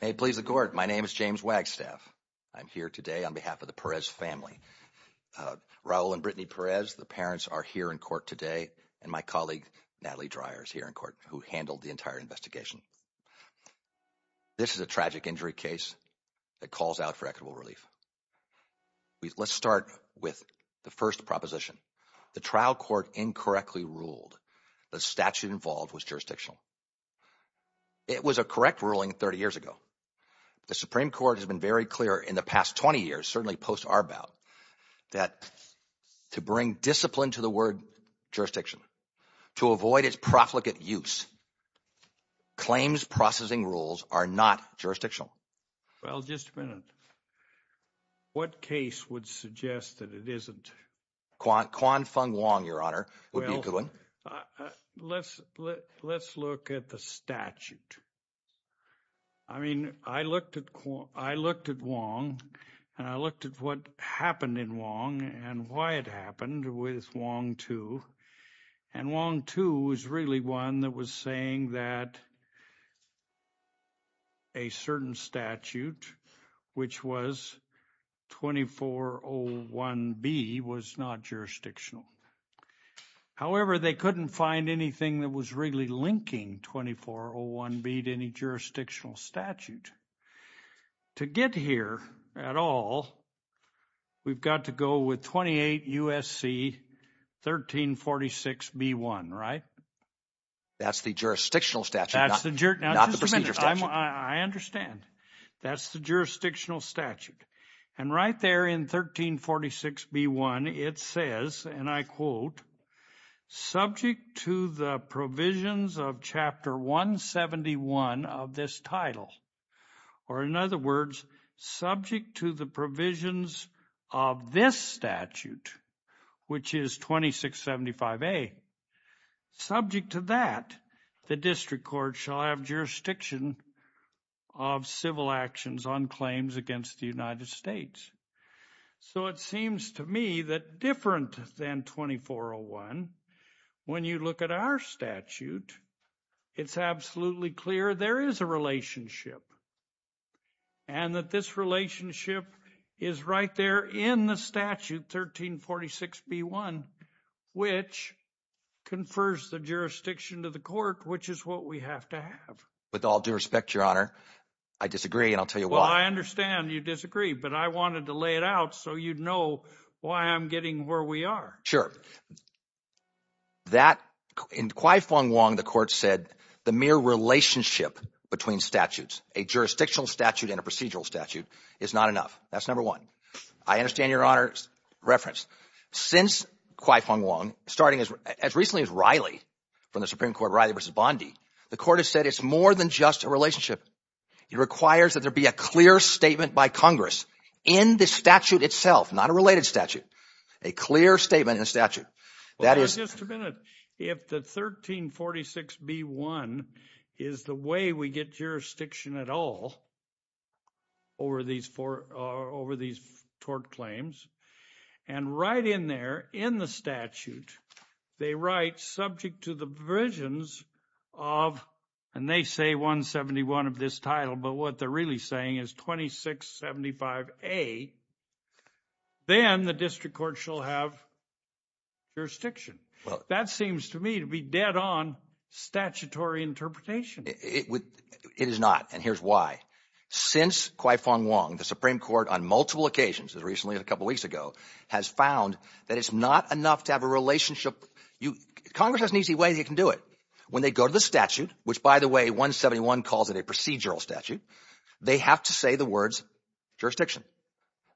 May it please the court. My name is James Wagstaff. I'm here today on behalf of the Perez family, Raul and Brittany Perez. The parents are here in court today and my colleague, Natalie Dreyer, is here in court who handled the entire investigation. This is a tragic injury case that calls out for equitable relief. Let's start with the first proposition. The trial court incorrectly ruled the statute involved was jurisdictional. It was a correct ruling 30 years ago. The Supreme Court has been very clear in the past 20 years, certainly post Arbaugh, that to bring discipline to the word jurisdiction, to avoid its profligate use, claims processing rules are not jurisdictional. Well, just a minute. What case would suggest that it isn't? Quan Fung Wong, Your Honor, would be a good one. Let's look at the statute. I mean, I looked at Wong and I looked at what happened in Wong and why it happened with Wong too. And Wong too is really one that was saying that a certain statute, which was 2401B, was not jurisdictional. However, they couldn't find anything that was really linking 2401B to any jurisdictional statute. To get here at all, we've got to go with 28 U.S.C. 1346B1, right? That's the jurisdictional statute, not the procedure statute. I understand. That's the jurisdictional statute. And right there in 1346B1 it says, and I quote, subject to the provisions of Chapter 171 of this title, or in other words, subject to the provisions of this statute, which is 2675A. Subject to that, the district court shall have jurisdiction of civil actions on claims against the United States. So it seems to me that different than 2401, when you look at our statute, it's absolutely clear there is a relationship. And that this relationship is right there in the statute 1346B1, which confers the jurisdiction to the court, which is what we have to have. With all due respect, Your Honor, I disagree and I'll tell you why. Well, I understand you disagree, but I wanted to lay it out so you'd know why I'm getting where we are. Sure. That, in Kwai Fong Wong, the court said the mere relationship between statutes, a jurisdictional statute and a procedural statute, is not enough. That's number one. I understand, Your Honor's reference. Since Kwai Fong Wong, starting as recently as Riley, from the Supreme Court, Riley v. Bondi, the court has said it's more than just a relationship. It requires that there be a clear statement by Congress in the statute itself, not a related statute, a clear statement in a statute. Just a minute. If the 1346B1 is the way we get jurisdiction at all over these tort claims, and right in there, in the statute, they write, subject to the provisions of, and they say 171 of this title, but what they're really saying is 2675A, then the district court shall have jurisdiction. That seems to me to be dead on statutory interpretation. It is not, and here's why. Since Kwai Fong Wong, the Supreme Court, on multiple occasions, as recently as a couple weeks ago, has found that it's not enough to have a relationship. Congress has an easy way they can do it. When they go to the statute, which, by the way, 171 calls it a procedural statute, they have to say the words jurisdiction.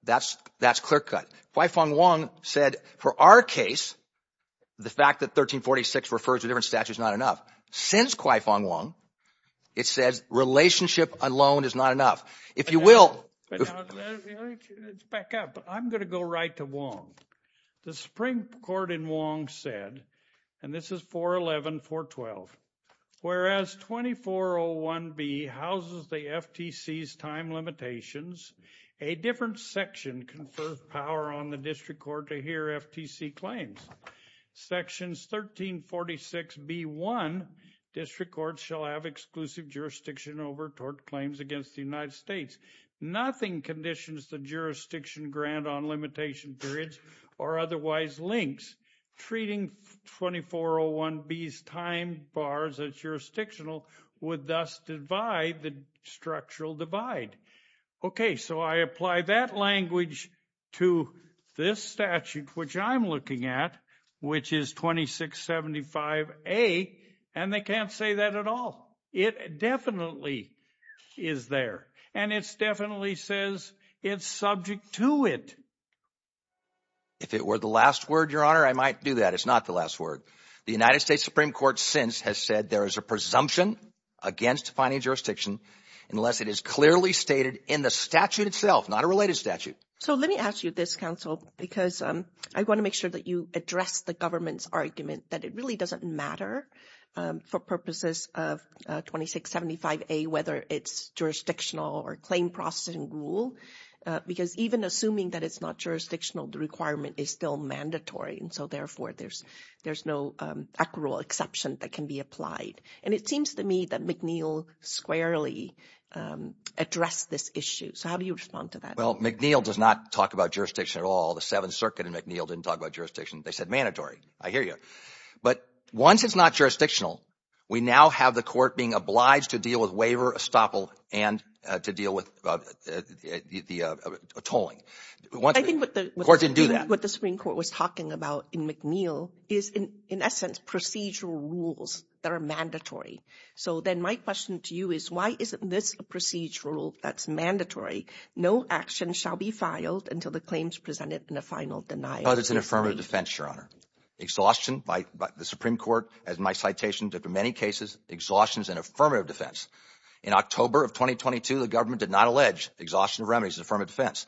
That's clear cut. Kwai Fong Wong said, for our case, the fact that 1346 refers to a different statute is not enough. Since Kwai Fong Wong, it says relationship alone is not enough. If you will – Back up. I'm going to go right to Wong. The Supreme Court in Wong said, and this is 411, 412, whereas 2401B houses the FTC's time limitations, a different section conferred power on the district court to hear FTC claims. Sections 1346B-1, district courts shall have exclusive jurisdiction over tort claims against the United States. Nothing conditions the jurisdiction grant on limitation periods or otherwise links. Treating 2401B's time bars as jurisdictional would thus divide the structural divide. Okay, so I apply that language to this statute, which I'm looking at, which is 2675A, and they can't say that at all. It definitely is there, and it definitely says it's subject to it. If it were the last word, Your Honor, I might do that. It's not the last word. The United States Supreme Court since has said there is a presumption against defining jurisdiction unless it is clearly stated in the statute itself, not a related statute. So let me ask you this, counsel, because I want to make sure that you address the government's argument that it really doesn't matter for purposes of 2675A, whether it's jurisdictional or claim processing rule. Because even assuming that it's not jurisdictional, the requirement is still mandatory, and so, therefore, there's no accrual exception that can be applied. And it seems to me that McNeil squarely addressed this issue. So how do you respond to that? Well, McNeil does not talk about jurisdiction at all. The Seventh Circuit and McNeil didn't talk about jurisdiction. They said mandatory. I hear you. But once it's not jurisdictional, we now have the court being obliged to deal with waiver, estoppel, and to deal with the tolling. I think what the Supreme Court was talking about in McNeil is, in essence, procedural rules that are mandatory. So then my question to you is why isn't this a procedural that's mandatory? No action shall be filed until the claim is presented in a final denial. Oh, that's an affirmative defense, Your Honor. Exhaustion by the Supreme Court, as in my citations, after many cases, exhaustion is an affirmative defense. In October of 2022, the government did not allege exhaustion of remedies as an affirmative defense.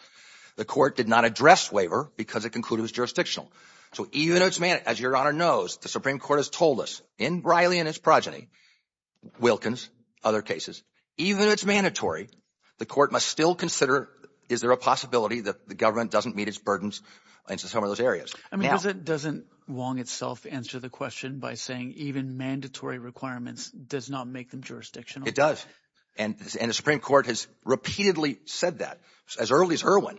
The court did not address waiver because it concluded it was jurisdictional. So even though it's – as Your Honor knows, the Supreme Court has told us in Riley and his progeny, Wilkins, other cases, even though it's mandatory, the court must still consider is there a possibility that the government doesn't meet its burdens in some of those areas. I mean doesn't Wong itself answer the question by saying even mandatory requirements does not make them jurisdictional? It does, and the Supreme Court has repeatedly said that as early as Irwin.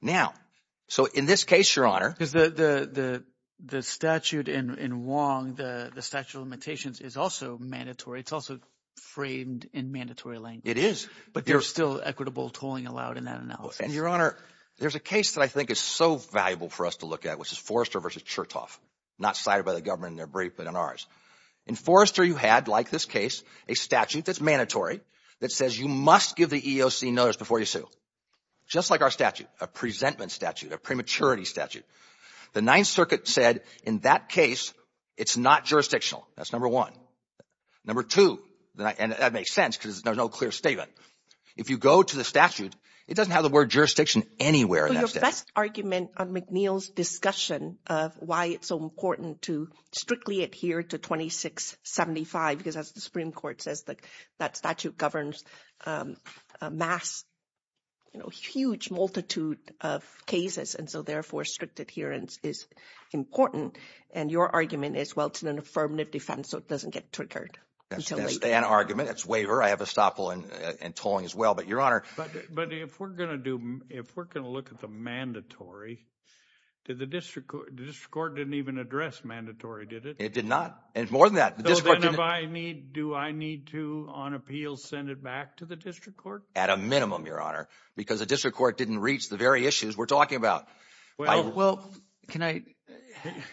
Now – so in this case, Your Honor… Because the statute in Wong, the statute of limitations, is also mandatory. It's also framed in mandatory language. It is, but there's still equitable tolling allowed in that analysis. And Your Honor, there's a case that I think is so valuable for us to look at, which is Forrester v. Chertoff, not cited by the government in their brief but in ours. In Forrester you had, like this case, a statute that's mandatory that says you must give the EEOC notice before you sue, just like our statute, a presentment statute, a prematurity statute. The Ninth Circuit said in that case it's not jurisdictional. That's number one. Number two, and that makes sense because there's no clear statement. If you go to the statute, it doesn't have the word jurisdiction anywhere in that statute. But your best argument on McNeil's discussion of why it's so important to strictly adhere to 2675 because, as the Supreme Court says, that statute governs a mass, huge multitude of cases. And so, therefore, strict adherence is important. And your argument is, well, it's an affirmative defense, so it doesn't get triggered until later. That's an argument. It's waiver. I have estoppel and tolling as well. But, Your Honor – But if we're going to do – if we're going to look at the mandatory, did the district court – the district court didn't even address mandatory, did it? It did not. And more than that – So then if I need – do I need to, on appeal, send it back to the district court? At a minimum, Your Honor, because the district court didn't reach the very issues we're talking about. Well, can I –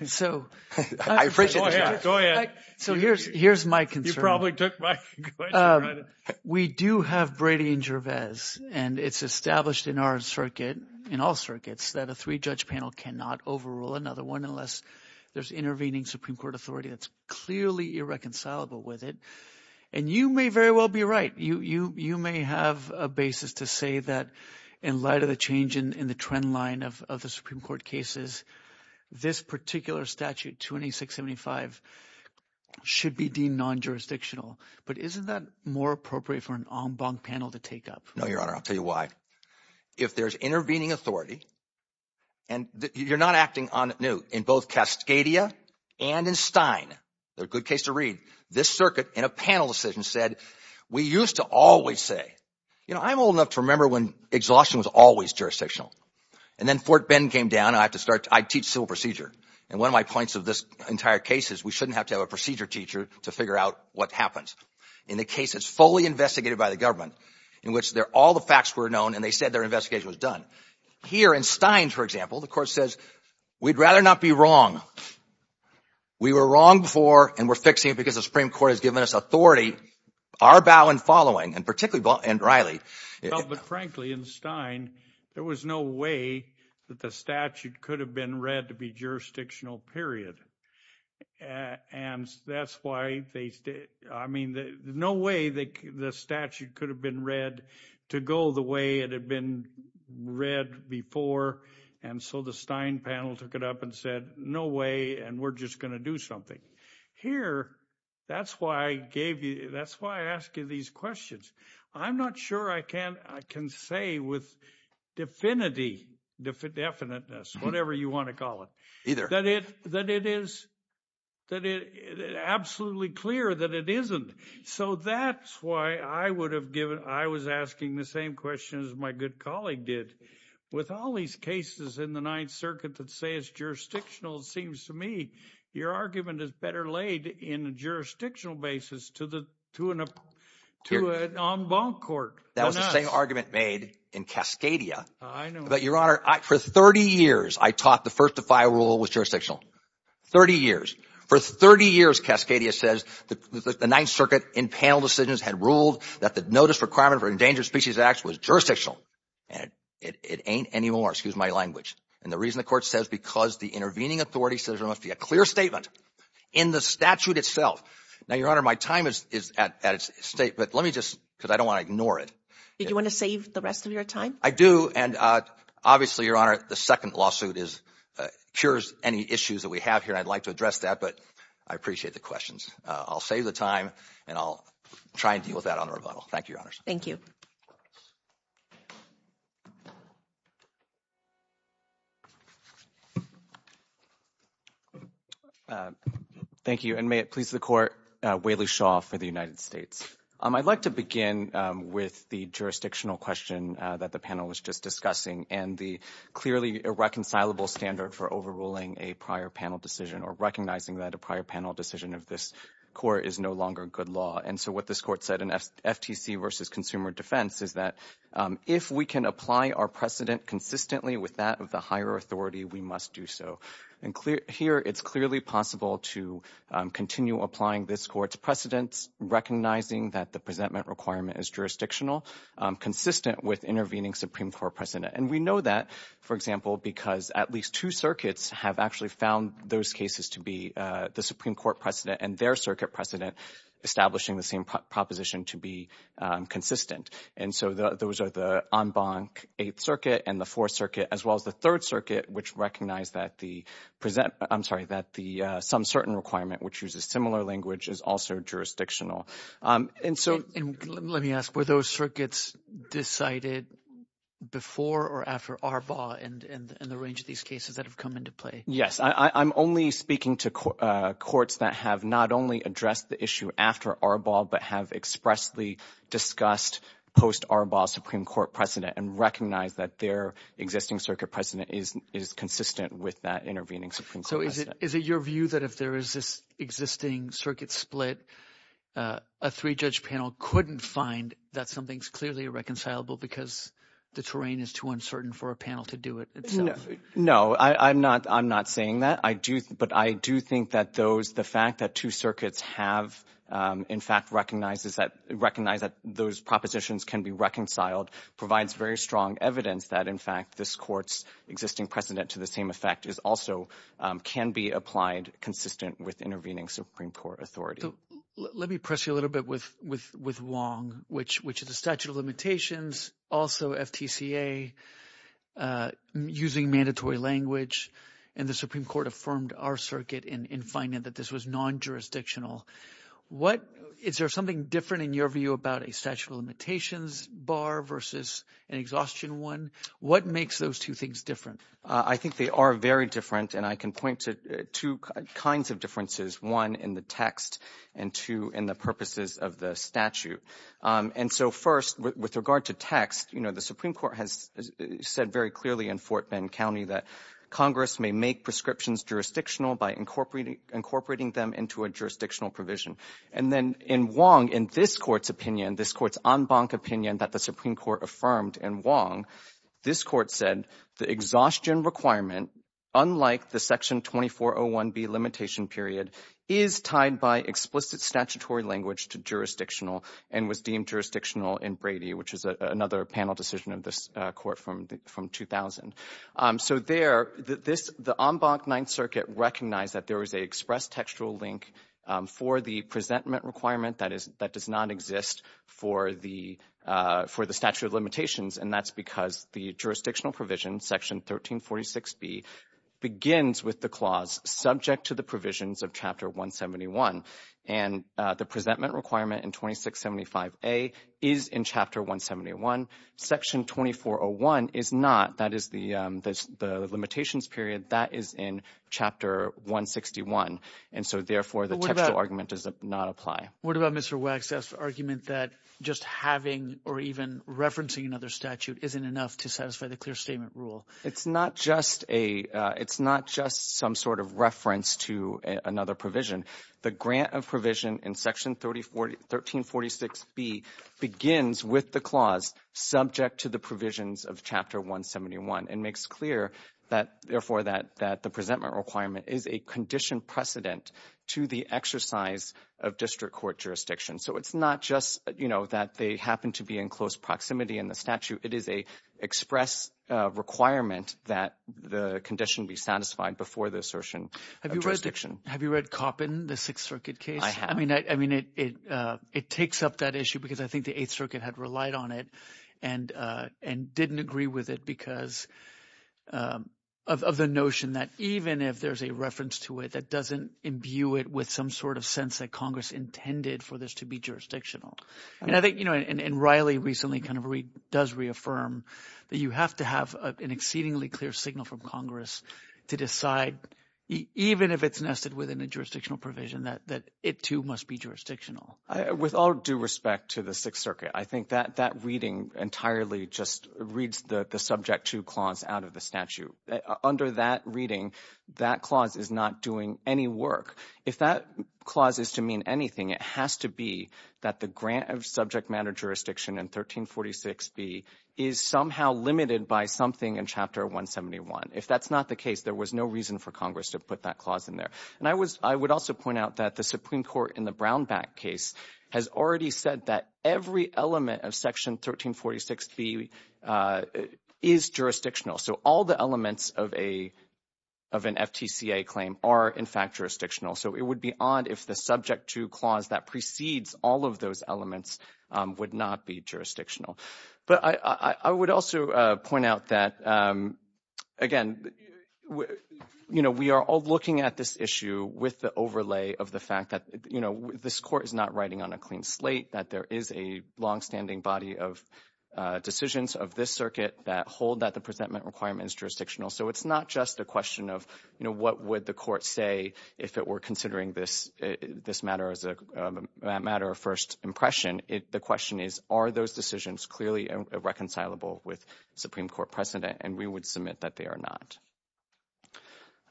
so – Go ahead. Go ahead. So here's my concern. You probably took my question. We do have Brady and Gervais, and it's established in our circuit, in all circuits, that a three-judge panel cannot overrule another one unless there's intervening Supreme Court authority that's clearly irreconcilable with it. And you may very well be right. You may have a basis to say that in light of the change in the trend line of the Supreme Court cases, this particular statute, 28675, should be deemed non-jurisdictional. But isn't that more appropriate for an en banc panel to take up? No, Your Honor. I'll tell you why. If there's intervening authority – and you're not acting on it new. In both Cascadia and in Stein – they're a good case to read – this circuit, in a panel decision, said we used to always say – you know, I'm old enough to remember when exhaustion was always jurisdictional. And then Fort Bend came down, and I have to start – I teach civil procedure. And one of my points of this entire case is we shouldn't have to have a procedure teacher to figure out what happens. In the case that's fully investigated by the government, in which all the facts were known and they said their investigation was done. Here in Stein, for example, the court says, we'd rather not be wrong. We were wrong before, and we're fixing it because the Supreme Court has given us authority. Our bow and following, and particularly – and Riley – Well, but frankly, in Stein, there was no way that the statute could have been read to be jurisdictional, period. And that's why they – I mean, no way the statute could have been read to go the way it had been read before. And so the Stein panel took it up and said, no way, and we're just going to do something. Here, that's why I gave you – that's why I ask you these questions. I'm not sure I can say with definity, definiteness, whatever you want to call it. Either. That it is absolutely clear that it isn't. So that's why I would have given – I was asking the same question as my good colleague did. With all these cases in the Ninth Circuit that say it's jurisdictional, it seems to me your argument is better laid in a jurisdictional basis to an – To an en banc court. That was the same argument made in Cascadia. I know. But, Your Honor, for 30 years, I taught the first defy rule was jurisdictional. 30 years. For 30 years, Cascadia says the Ninth Circuit in panel decisions had ruled that the notice requirement for endangered species acts was jurisdictional. And it ain't anymore. Excuse my language. And the reason the court says because the intervening authority says there must be a clear statement in the statute itself. Now, Your Honor, my time is at its state. But let me just – because I don't want to ignore it. Did you want to save the rest of your time? I do. And obviously, Your Honor, the second lawsuit is – cures any issues that we have here. I'd like to address that. But I appreciate the questions. I'll save the time and I'll try and deal with that on the rebuttal. Thank you, Your Honors. Thank you. Thank you. And may it please the court, Whaley Shaw for the United States. I'd like to begin with the jurisdictional question that the panel was just discussing and the clearly irreconcilable standard for overruling a prior panel decision or recognizing that a prior panel decision of this court is no longer good law. And so what this court said in FTC versus Consumer Defense is that if we can apply our precedent consistently with that of the higher authority, we must do so. And here it's clearly possible to continue applying this court's precedents, recognizing that the presentment requirement is jurisdictional, consistent with intervening Supreme Court precedent. And we know that, for example, because at least two circuits have actually found those cases to be the Supreme Court precedent and their circuit precedent establishing the same proposition to be consistent. And so those are the en banc Eighth Circuit and the Fourth Circuit, as well as the Third Circuit, which recognize that the present – I'm sorry, that the some certain requirement, which uses similar language, is also jurisdictional. And so – And let me ask, were those circuits decided before or after ARBA and the range of these cases that have come into play? Yes. I'm only speaking to courts that have not only addressed the issue after ARBA but have expressly discussed post-ARBA Supreme Court precedent and recognize that their existing circuit precedent is consistent with that intervening Supreme Court precedent. So is it your view that if there is this existing circuit split, a three-judge panel couldn't find that something is clearly irreconcilable because the terrain is too uncertain for a panel to do it itself? No. I'm not saying that. But I do think that those – the fact that two circuits have, in fact, recognized that those propositions can be reconciled provides very strong evidence that, in fact, this court's existing precedent to the same effect is also – can be applied consistent with intervening Supreme Court authority. Let me press you a little bit with Wong, which is the statute of limitations, also FTCA, using mandatory language, and the Supreme Court affirmed our circuit in finding that this was non-jurisdictional. What – is there something different in your view about a statute of limitations bar versus an exhaustion one? What makes those two things different? I think they are very different, and I can point to two kinds of differences, one in the text and two in the purposes of the statute. And so first, with regard to text, you know, the Supreme Court has said very clearly in Fort Bend County that Congress may make prescriptions jurisdictional by incorporating them into a jurisdictional provision. And then in Wong, in this court's opinion, this court's en banc opinion that the Supreme Court affirmed in Wong, this court said the exhaustion requirement, unlike the Section 2401B limitation period, is tied by explicit statutory language to jurisdictional and was deemed jurisdictional in Brady, which is another panel decision of this court from 2000. So there, the en banc Ninth Circuit recognized that there was an express textual link for the presentment requirement that does not exist for the statute of limitations, and that's because the jurisdictional provision, Section 1346B, begins with the clause subject to the provisions of Chapter 171. And the presentment requirement in 2675A is in Chapter 171. Section 2401 is not. That is the limitations period. That is in Chapter 161. And so, therefore, the textual argument does not apply. What about Mr. Wagstaff's argument that just having or even referencing another statute isn't enough to satisfy the clear statement rule? It's not just some sort of reference to another provision. The grant of provision in Section 1346B begins with the clause subject to the provisions of Chapter 171 and makes clear, therefore, that the presentment requirement is a conditioned precedent to the exercise of district court jurisdiction. So it's not just that they happen to be in close proximity in the statute. It is an express requirement that the condition be satisfied before the assertion of jurisdiction. Have you read Koppen, the Sixth Circuit case? I have. I mean, it takes up that issue because I think the Eighth Circuit had relied on it and didn't agree with it because of the notion that even if there's a reference to it, that doesn't imbue it with some sort of sense that Congress intended for this to be jurisdictional. And I think – and Riley recently kind of does reaffirm that you have to have an exceedingly clear signal from Congress to decide even if it's nested within a jurisdictional provision that it, too, must be jurisdictional. With all due respect to the Sixth Circuit, I think that reading entirely just reads the subject to clause out of the statute. Under that reading, that clause is not doing any work. If that clause is to mean anything, it has to be that the grant of subject matter jurisdiction in 1346B is somehow limited by something in Chapter 171. If that's not the case, there was no reason for Congress to put that clause in there. And I would also point out that the Supreme Court in the Brownback case has already said that every element of Section 1346B is jurisdictional. So all the elements of an FTCA claim are, in fact, jurisdictional. So it would be odd if the subject to clause that precedes all of those elements would not be jurisdictional. But I would also point out that, again, you know, we are all looking at this issue with the overlay of the fact that, you know, this Court is not writing on a clean slate, that there is a longstanding body of decisions of this circuit that hold that the presentment requirement is jurisdictional. So it's not just a question of, you know, what would the Court say if it were considering this matter as a matter of first impression. The question is, are those decisions clearly reconcilable with Supreme Court precedent? And we would submit that they are not.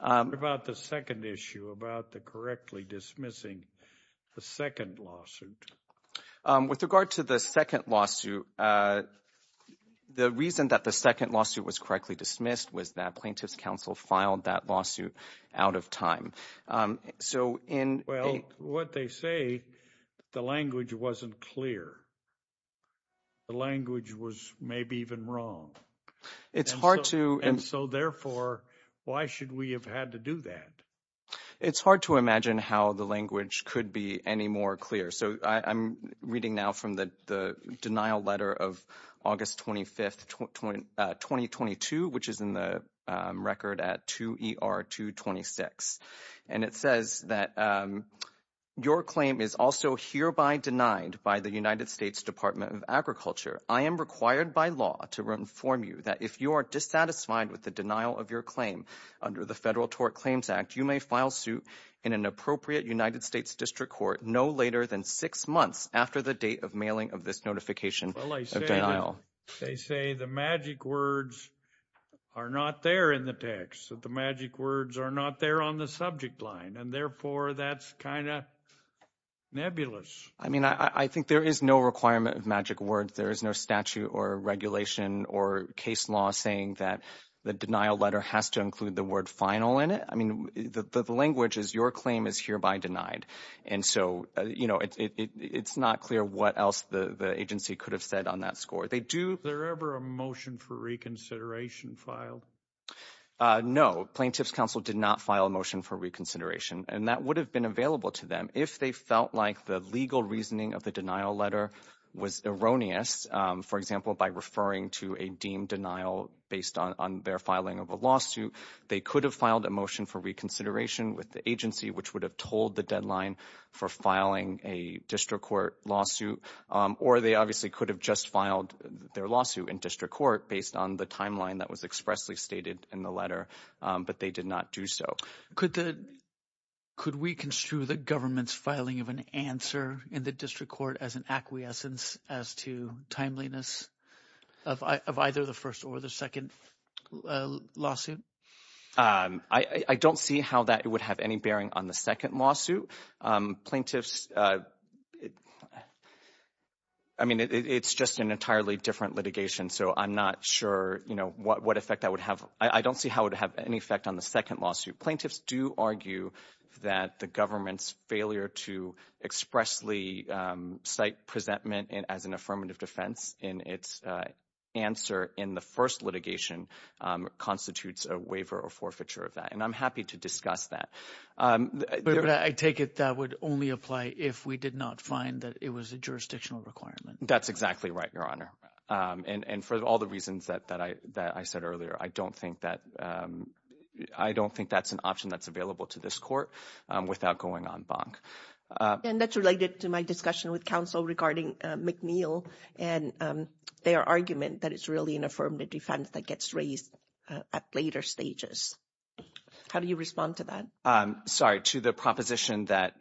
What about the second issue, about the correctly dismissing the second lawsuit? With regard to the second lawsuit, the reason that the second lawsuit was correctly dismissed was that plaintiff's counsel filed that lawsuit out of time. Well, what they say, the language wasn't clear. The language was maybe even wrong. And so, therefore, why should we have had to do that? It's hard to imagine how the language could be any more clear. So I'm reading now from the denial letter of August 25, 2022, which is in the record at 2ER226. And it says that your claim is also hereby denied by the United States Department of Agriculture. I am required by law to inform you that if you are dissatisfied with the denial of your claim under the Federal Tort Claims Act, you may file suit in an appropriate United States district court no later than six months after the date of mailing of this notification of denial. Well, they say the magic words are not there in the text, that the magic words are not there on the subject line. And, therefore, that's kind of nebulous. I mean, I think there is no requirement of magic words. There is no statute or regulation or case law saying that the denial letter has to include the word final in it. I mean, the language is your claim is hereby denied. And so, you know, it's not clear what else the agency could have said on that score. Is there ever a motion for reconsideration filed? No. Plaintiffs' counsel did not file a motion for reconsideration. And that would have been available to them if they felt like the legal reasoning of the denial letter was erroneous, for example, by referring to a deemed denial based on their filing of a lawsuit. They could have filed a motion for reconsideration with the agency, which would have told the deadline for filing a district court lawsuit. Or they obviously could have just filed their lawsuit in district court based on the timeline that was expressly stated in the letter. But they did not do so. Could we construe the government's filing of an answer in the district court as an acquiescence as to timeliness of either the first or the second lawsuit? I don't see how that would have any bearing on the second lawsuit. Plaintiffs, I mean, it's just an entirely different litigation. So I'm not sure, you know, what effect that would have. I don't see how it would have any effect on the second lawsuit. Plaintiffs do argue that the government's failure to expressly cite presentment as an affirmative defense in its answer in the first litigation constitutes a waiver or forfeiture of that. And I'm happy to discuss that. But I take it that would only apply if we did not find that it was a jurisdictional requirement. That's exactly right, Your Honor. And for all the reasons that I said earlier, I don't think that's an option that's available to this court without going en banc. And that's related to my discussion with counsel regarding McNeil and their argument that it's really an affirmative defense that gets raised at later stages. How do you respond to that? Sorry, to the proposition that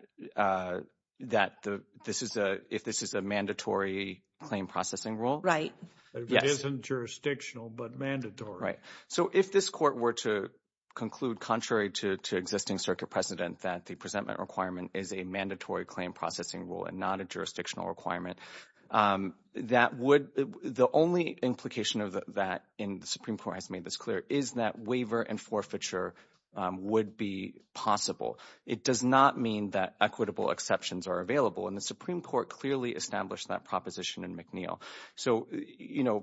this is a mandatory claim processing rule? Right. It isn't jurisdictional but mandatory. Right. So if this court were to conclude contrary to existing circuit precedent that the presentment requirement is a mandatory claim processing rule and not a jurisdictional requirement, the only implication of that, and the Supreme Court has made this clear, is that waiver and forfeiture would be possible. It does not mean that equitable exceptions are available. And the Supreme Court clearly established that proposition in McNeil. So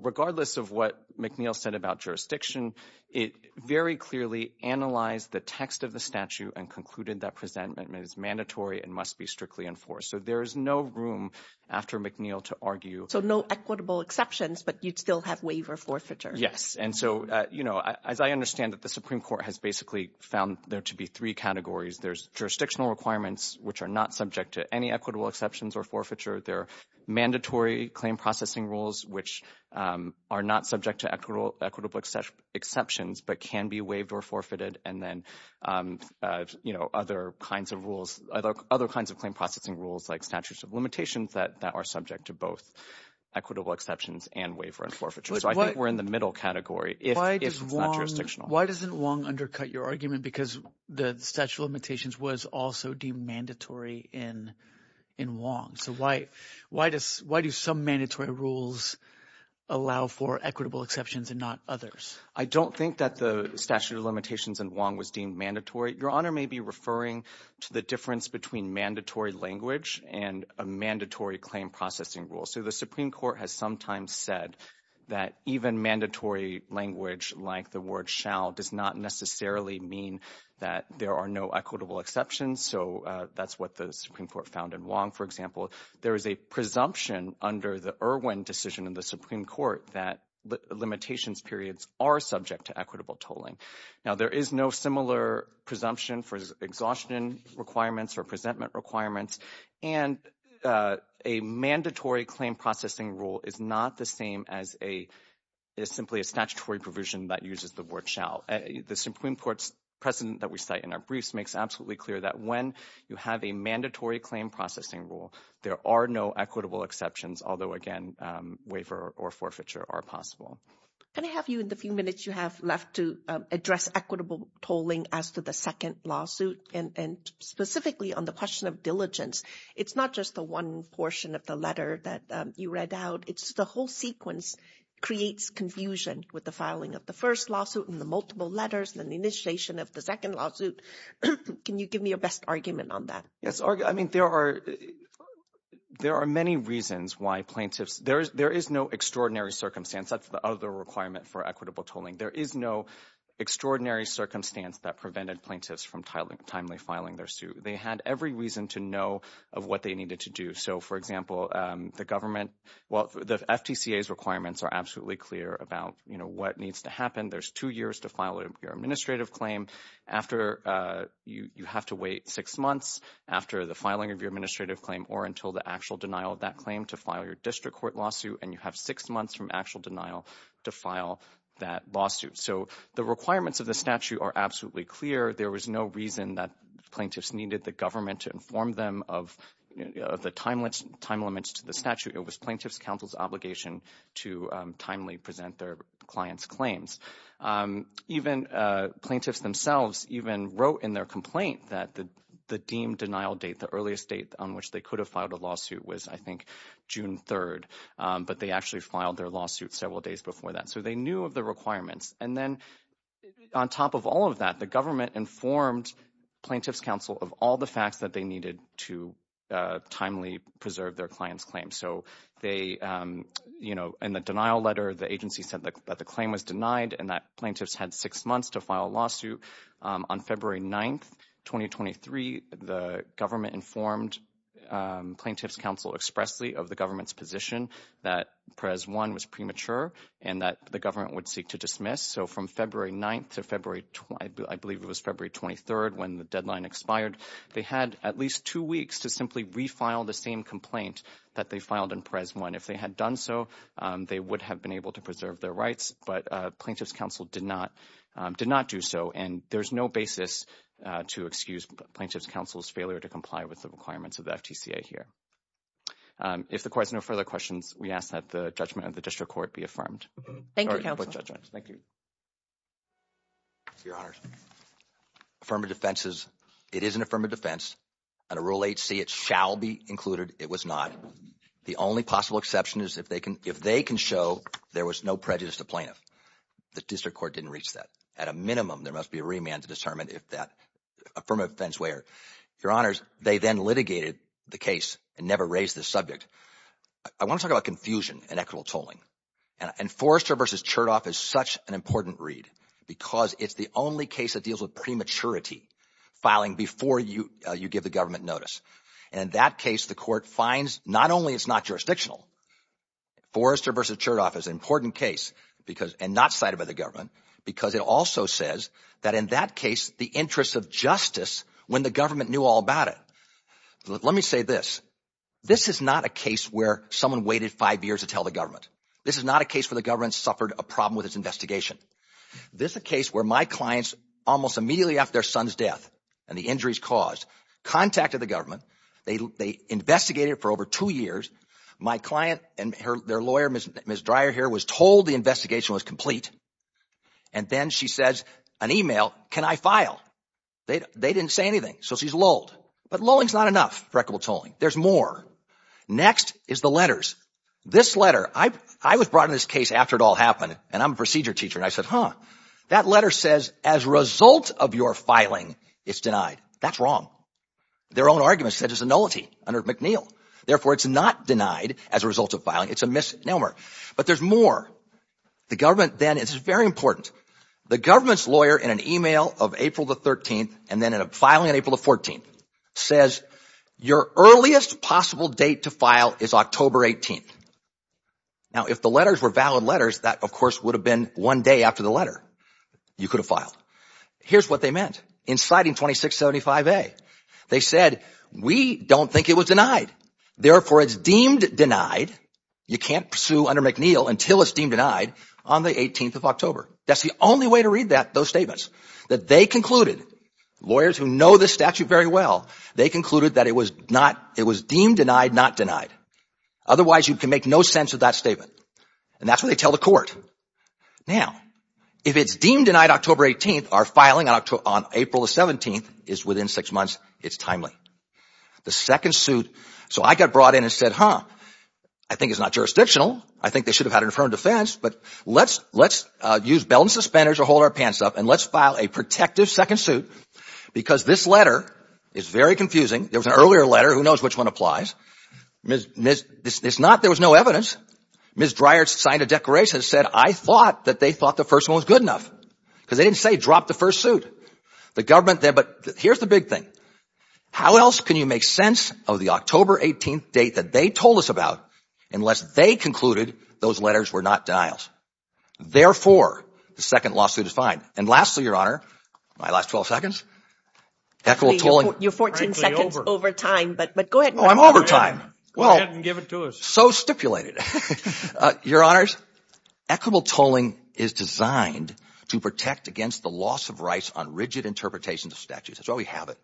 regardless of what McNeil said about jurisdiction, it very clearly analyzed the text of the statute and concluded that presentment is mandatory and must be strictly enforced. So there is no room after McNeil to argue. So no equitable exceptions, but you'd still have waiver forfeiture. Yes. And so, you know, as I understand it, the Supreme Court has basically found there to be three categories. There's jurisdictional requirements, which are not subject to any equitable exceptions or forfeiture. There are mandatory claim processing rules, which are not subject to equitable exceptions but can be waived or forfeited. And then, you know, other kinds of rules, other kinds of claim processing rules like statutes of limitations that are subject to both equitable exceptions and waiver and forfeiture. So I think we're in the middle category if it's not jurisdictional. Why doesn't Wong undercut your argument? Because the statute of limitations was also deemed mandatory in Wong. So why do some mandatory rules allow for equitable exceptions and not others? I don't think that the statute of limitations in Wong was deemed mandatory. Your Honor may be referring to the difference between mandatory language and a mandatory claim processing rule. So the Supreme Court has sometimes said that even mandatory language like the word shall does not necessarily mean that there are no equitable exceptions. So that's what the Supreme Court found in Wong, for example. There is a presumption under the Irwin decision in the Supreme Court that limitations periods are subject to equitable tolling. Now, there is no similar presumption for exhaustion requirements or presentment requirements. And a mandatory claim processing rule is not the same as simply a statutory provision that uses the word shall. The Supreme Court's precedent that we cite in our briefs makes absolutely clear that when you have a mandatory claim processing rule, there are no equitable exceptions, although, again, waiver or forfeiture are possible. Can I have you in the few minutes you have left to address equitable tolling as to the second lawsuit and specifically on the question of diligence? It's not just the one portion of the letter that you read out. It's the whole sequence creates confusion with the filing of the first lawsuit and the multiple letters and the initiation of the second lawsuit. Can you give me your best argument on that? Yes. I mean, there are many reasons why plaintiffs – there is no extraordinary circumstance. That's the other requirement for equitable tolling. There is no extraordinary circumstance that prevented plaintiffs from timely filing their suit. They had every reason to know of what they needed to do. So, for example, the government – well, the FTCA's requirements are absolutely clear about, you know, what needs to happen. There's two years to file your administrative claim. You have to wait six months after the filing of your administrative claim or until the actual denial of that claim to file your district court lawsuit, and you have six months from actual denial to file that lawsuit. So the requirements of the statute are absolutely clear. There was no reason that plaintiffs needed the government to inform them of the time limits to the statute. It was plaintiffs' counsel's obligation to timely present their clients' claims. Even plaintiffs themselves even wrote in their complaint that the deemed denial date, the earliest date on which they could have filed a lawsuit was, I think, June 3rd, but they actually filed their lawsuit several days before that. So they knew of the requirements. And then on top of all of that, the government informed plaintiffs' counsel of all the facts that they needed to timely preserve their clients' claims. So they – you know, in the denial letter, the agency said that the claim was denied and that plaintiffs had six months to file a lawsuit. On February 9th, 2023, the government informed plaintiffs' counsel expressly of the government's position that PREZ 1 was premature and that the government would seek to dismiss. So from February 9th to February – I believe it was February 23rd when the deadline expired, they had at least two weeks to simply refile the same complaint that they filed in PREZ 1. If they had done so, they would have been able to preserve their rights, but plaintiffs' counsel did not do so. And there's no basis to excuse plaintiffs' counsel's failure to comply with the requirements of the FTCA here. If the court has no further questions, we ask that the judgment of the district court be affirmed. Thank you, counsel. Thank you. Your Honor, affirmative defense is – it is an affirmative defense. Under Rule 8c, it shall be included. It was not. The only possible exception is if they can show there was no prejudice to plaintiff. The district court didn't reach that. At a minimum, there must be a remand to determine if that affirmative defense where. Your Honors, they then litigated the case and never raised the subject. I want to talk about confusion and equitable tolling. And Forrester v. Chertoff is such an important read because it's the only case that deals with prematurity filing before you give the government notice. And in that case, the court finds not only it's not jurisdictional. Forrester v. Chertoff is an important case because – and not cited by the government because it also says that in that case, the interest of justice when the government knew all about it. Let me say this. This is not a case where someone waited five years to tell the government. This is not a case where the government suffered a problem with its investigation. This is a case where my clients almost immediately after their son's death and the injuries caused contacted the government. They investigated for over two years. My client and their lawyer, Ms. Dreyer here, was told the investigation was complete. And then she says, an email, can I file? They didn't say anything. So she's lulled. But lulling is not enough for equitable tolling. There's more. Next is the letters. This letter – I was brought in this case after it all happened, and I'm a procedure teacher. And I said, huh, that letter says as a result of your filing, it's denied. That's wrong. Their own argument said it's a nullity under McNeil. Therefore, it's not denied as a result of filing. It's a misnomer. But there's more. The government then – this is very important. The government's lawyer in an email of April the 13th and then filing on April the 14th says your earliest possible date to file is October 18th. Now, if the letters were valid letters, that, of course, would have been one day after the letter. You could have filed. Here's what they meant. In citing 2675A, they said we don't think it was denied. Therefore, it's deemed denied. You can't sue under McNeil until it's deemed denied on the 18th of October. That's the only way to read those statements. That they concluded, lawyers who know this statute very well, they concluded that it was deemed denied, not denied. Otherwise, you can make no sense of that statement. And that's what they tell the court. Now, if it's deemed denied October 18th, our filing on April the 17th is within six months. It's timely. The second suit – so I got brought in and said, huh, I think it's not jurisdictional. I think they should have had an affirmed defense, but let's use belt and suspenders or hold our pants up and let's file a protective second suit because this letter is very confusing. There was an earlier letter. Who knows which one applies? It's not – there was no evidence. Ms. Dreyer signed a declaration that said I thought that they thought the first one was good enough because they didn't say drop the first suit. The government – but here's the big thing. How else can you make sense of the October 18th date that they told us about unless they concluded those letters were not denials? Therefore, the second lawsuit is fine. And lastly, Your Honor, my last 12 seconds, equitable tolling – You're 14 seconds over time, but go ahead. I'm over time. Go ahead and give it to us. So stipulated. Your Honors, equitable tolling is designed to protect against the loss of rights on rigid interpretations of statutes. That's why we have it.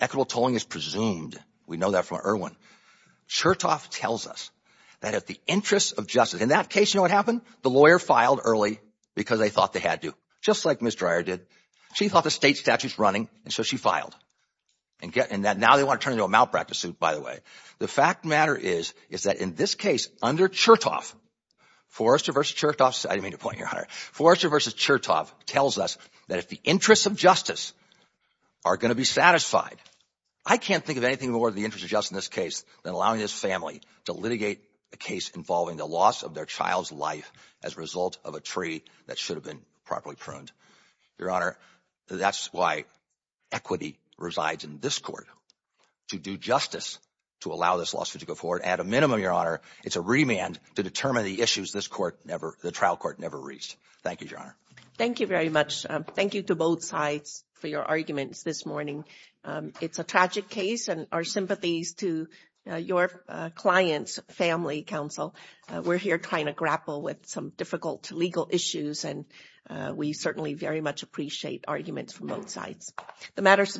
Equitable tolling is presumed. We know that from Erwin. Chertoff tells us that at the interest of justice – in that case, you know what happened? The lawyer filed early because they thought they had to, just like Ms. Dreyer did. She thought the state statute is running, and so she filed. And now they want to turn it into a malpractice suit, by the way. The fact of the matter is is that in this case, under Chertoff, Forrester v. Chertoff – I didn't mean to point you out, Your Honor. Forrester v. Chertoff tells us that at the interest of justice are going to be satisfied. I can't think of anything more at the interest of justice in this case than allowing this family to litigate a case involving the loss of their child's life as a result of a treaty that should have been properly pruned. Your Honor, that's why equity resides in this court. To do justice, to allow this lawsuit to go forward, at a minimum, Your Honor, it's a remand to determine the issues this court never – the trial court never reached. Thank you, Your Honor. Thank you very much. Thank you to both sides for your arguments this morning. It's a tragic case, and our sympathies to your client's family, counsel. We're here trying to grapple with some difficult legal issues, and we certainly very much appreciate arguments from both sides. The matter is submitted.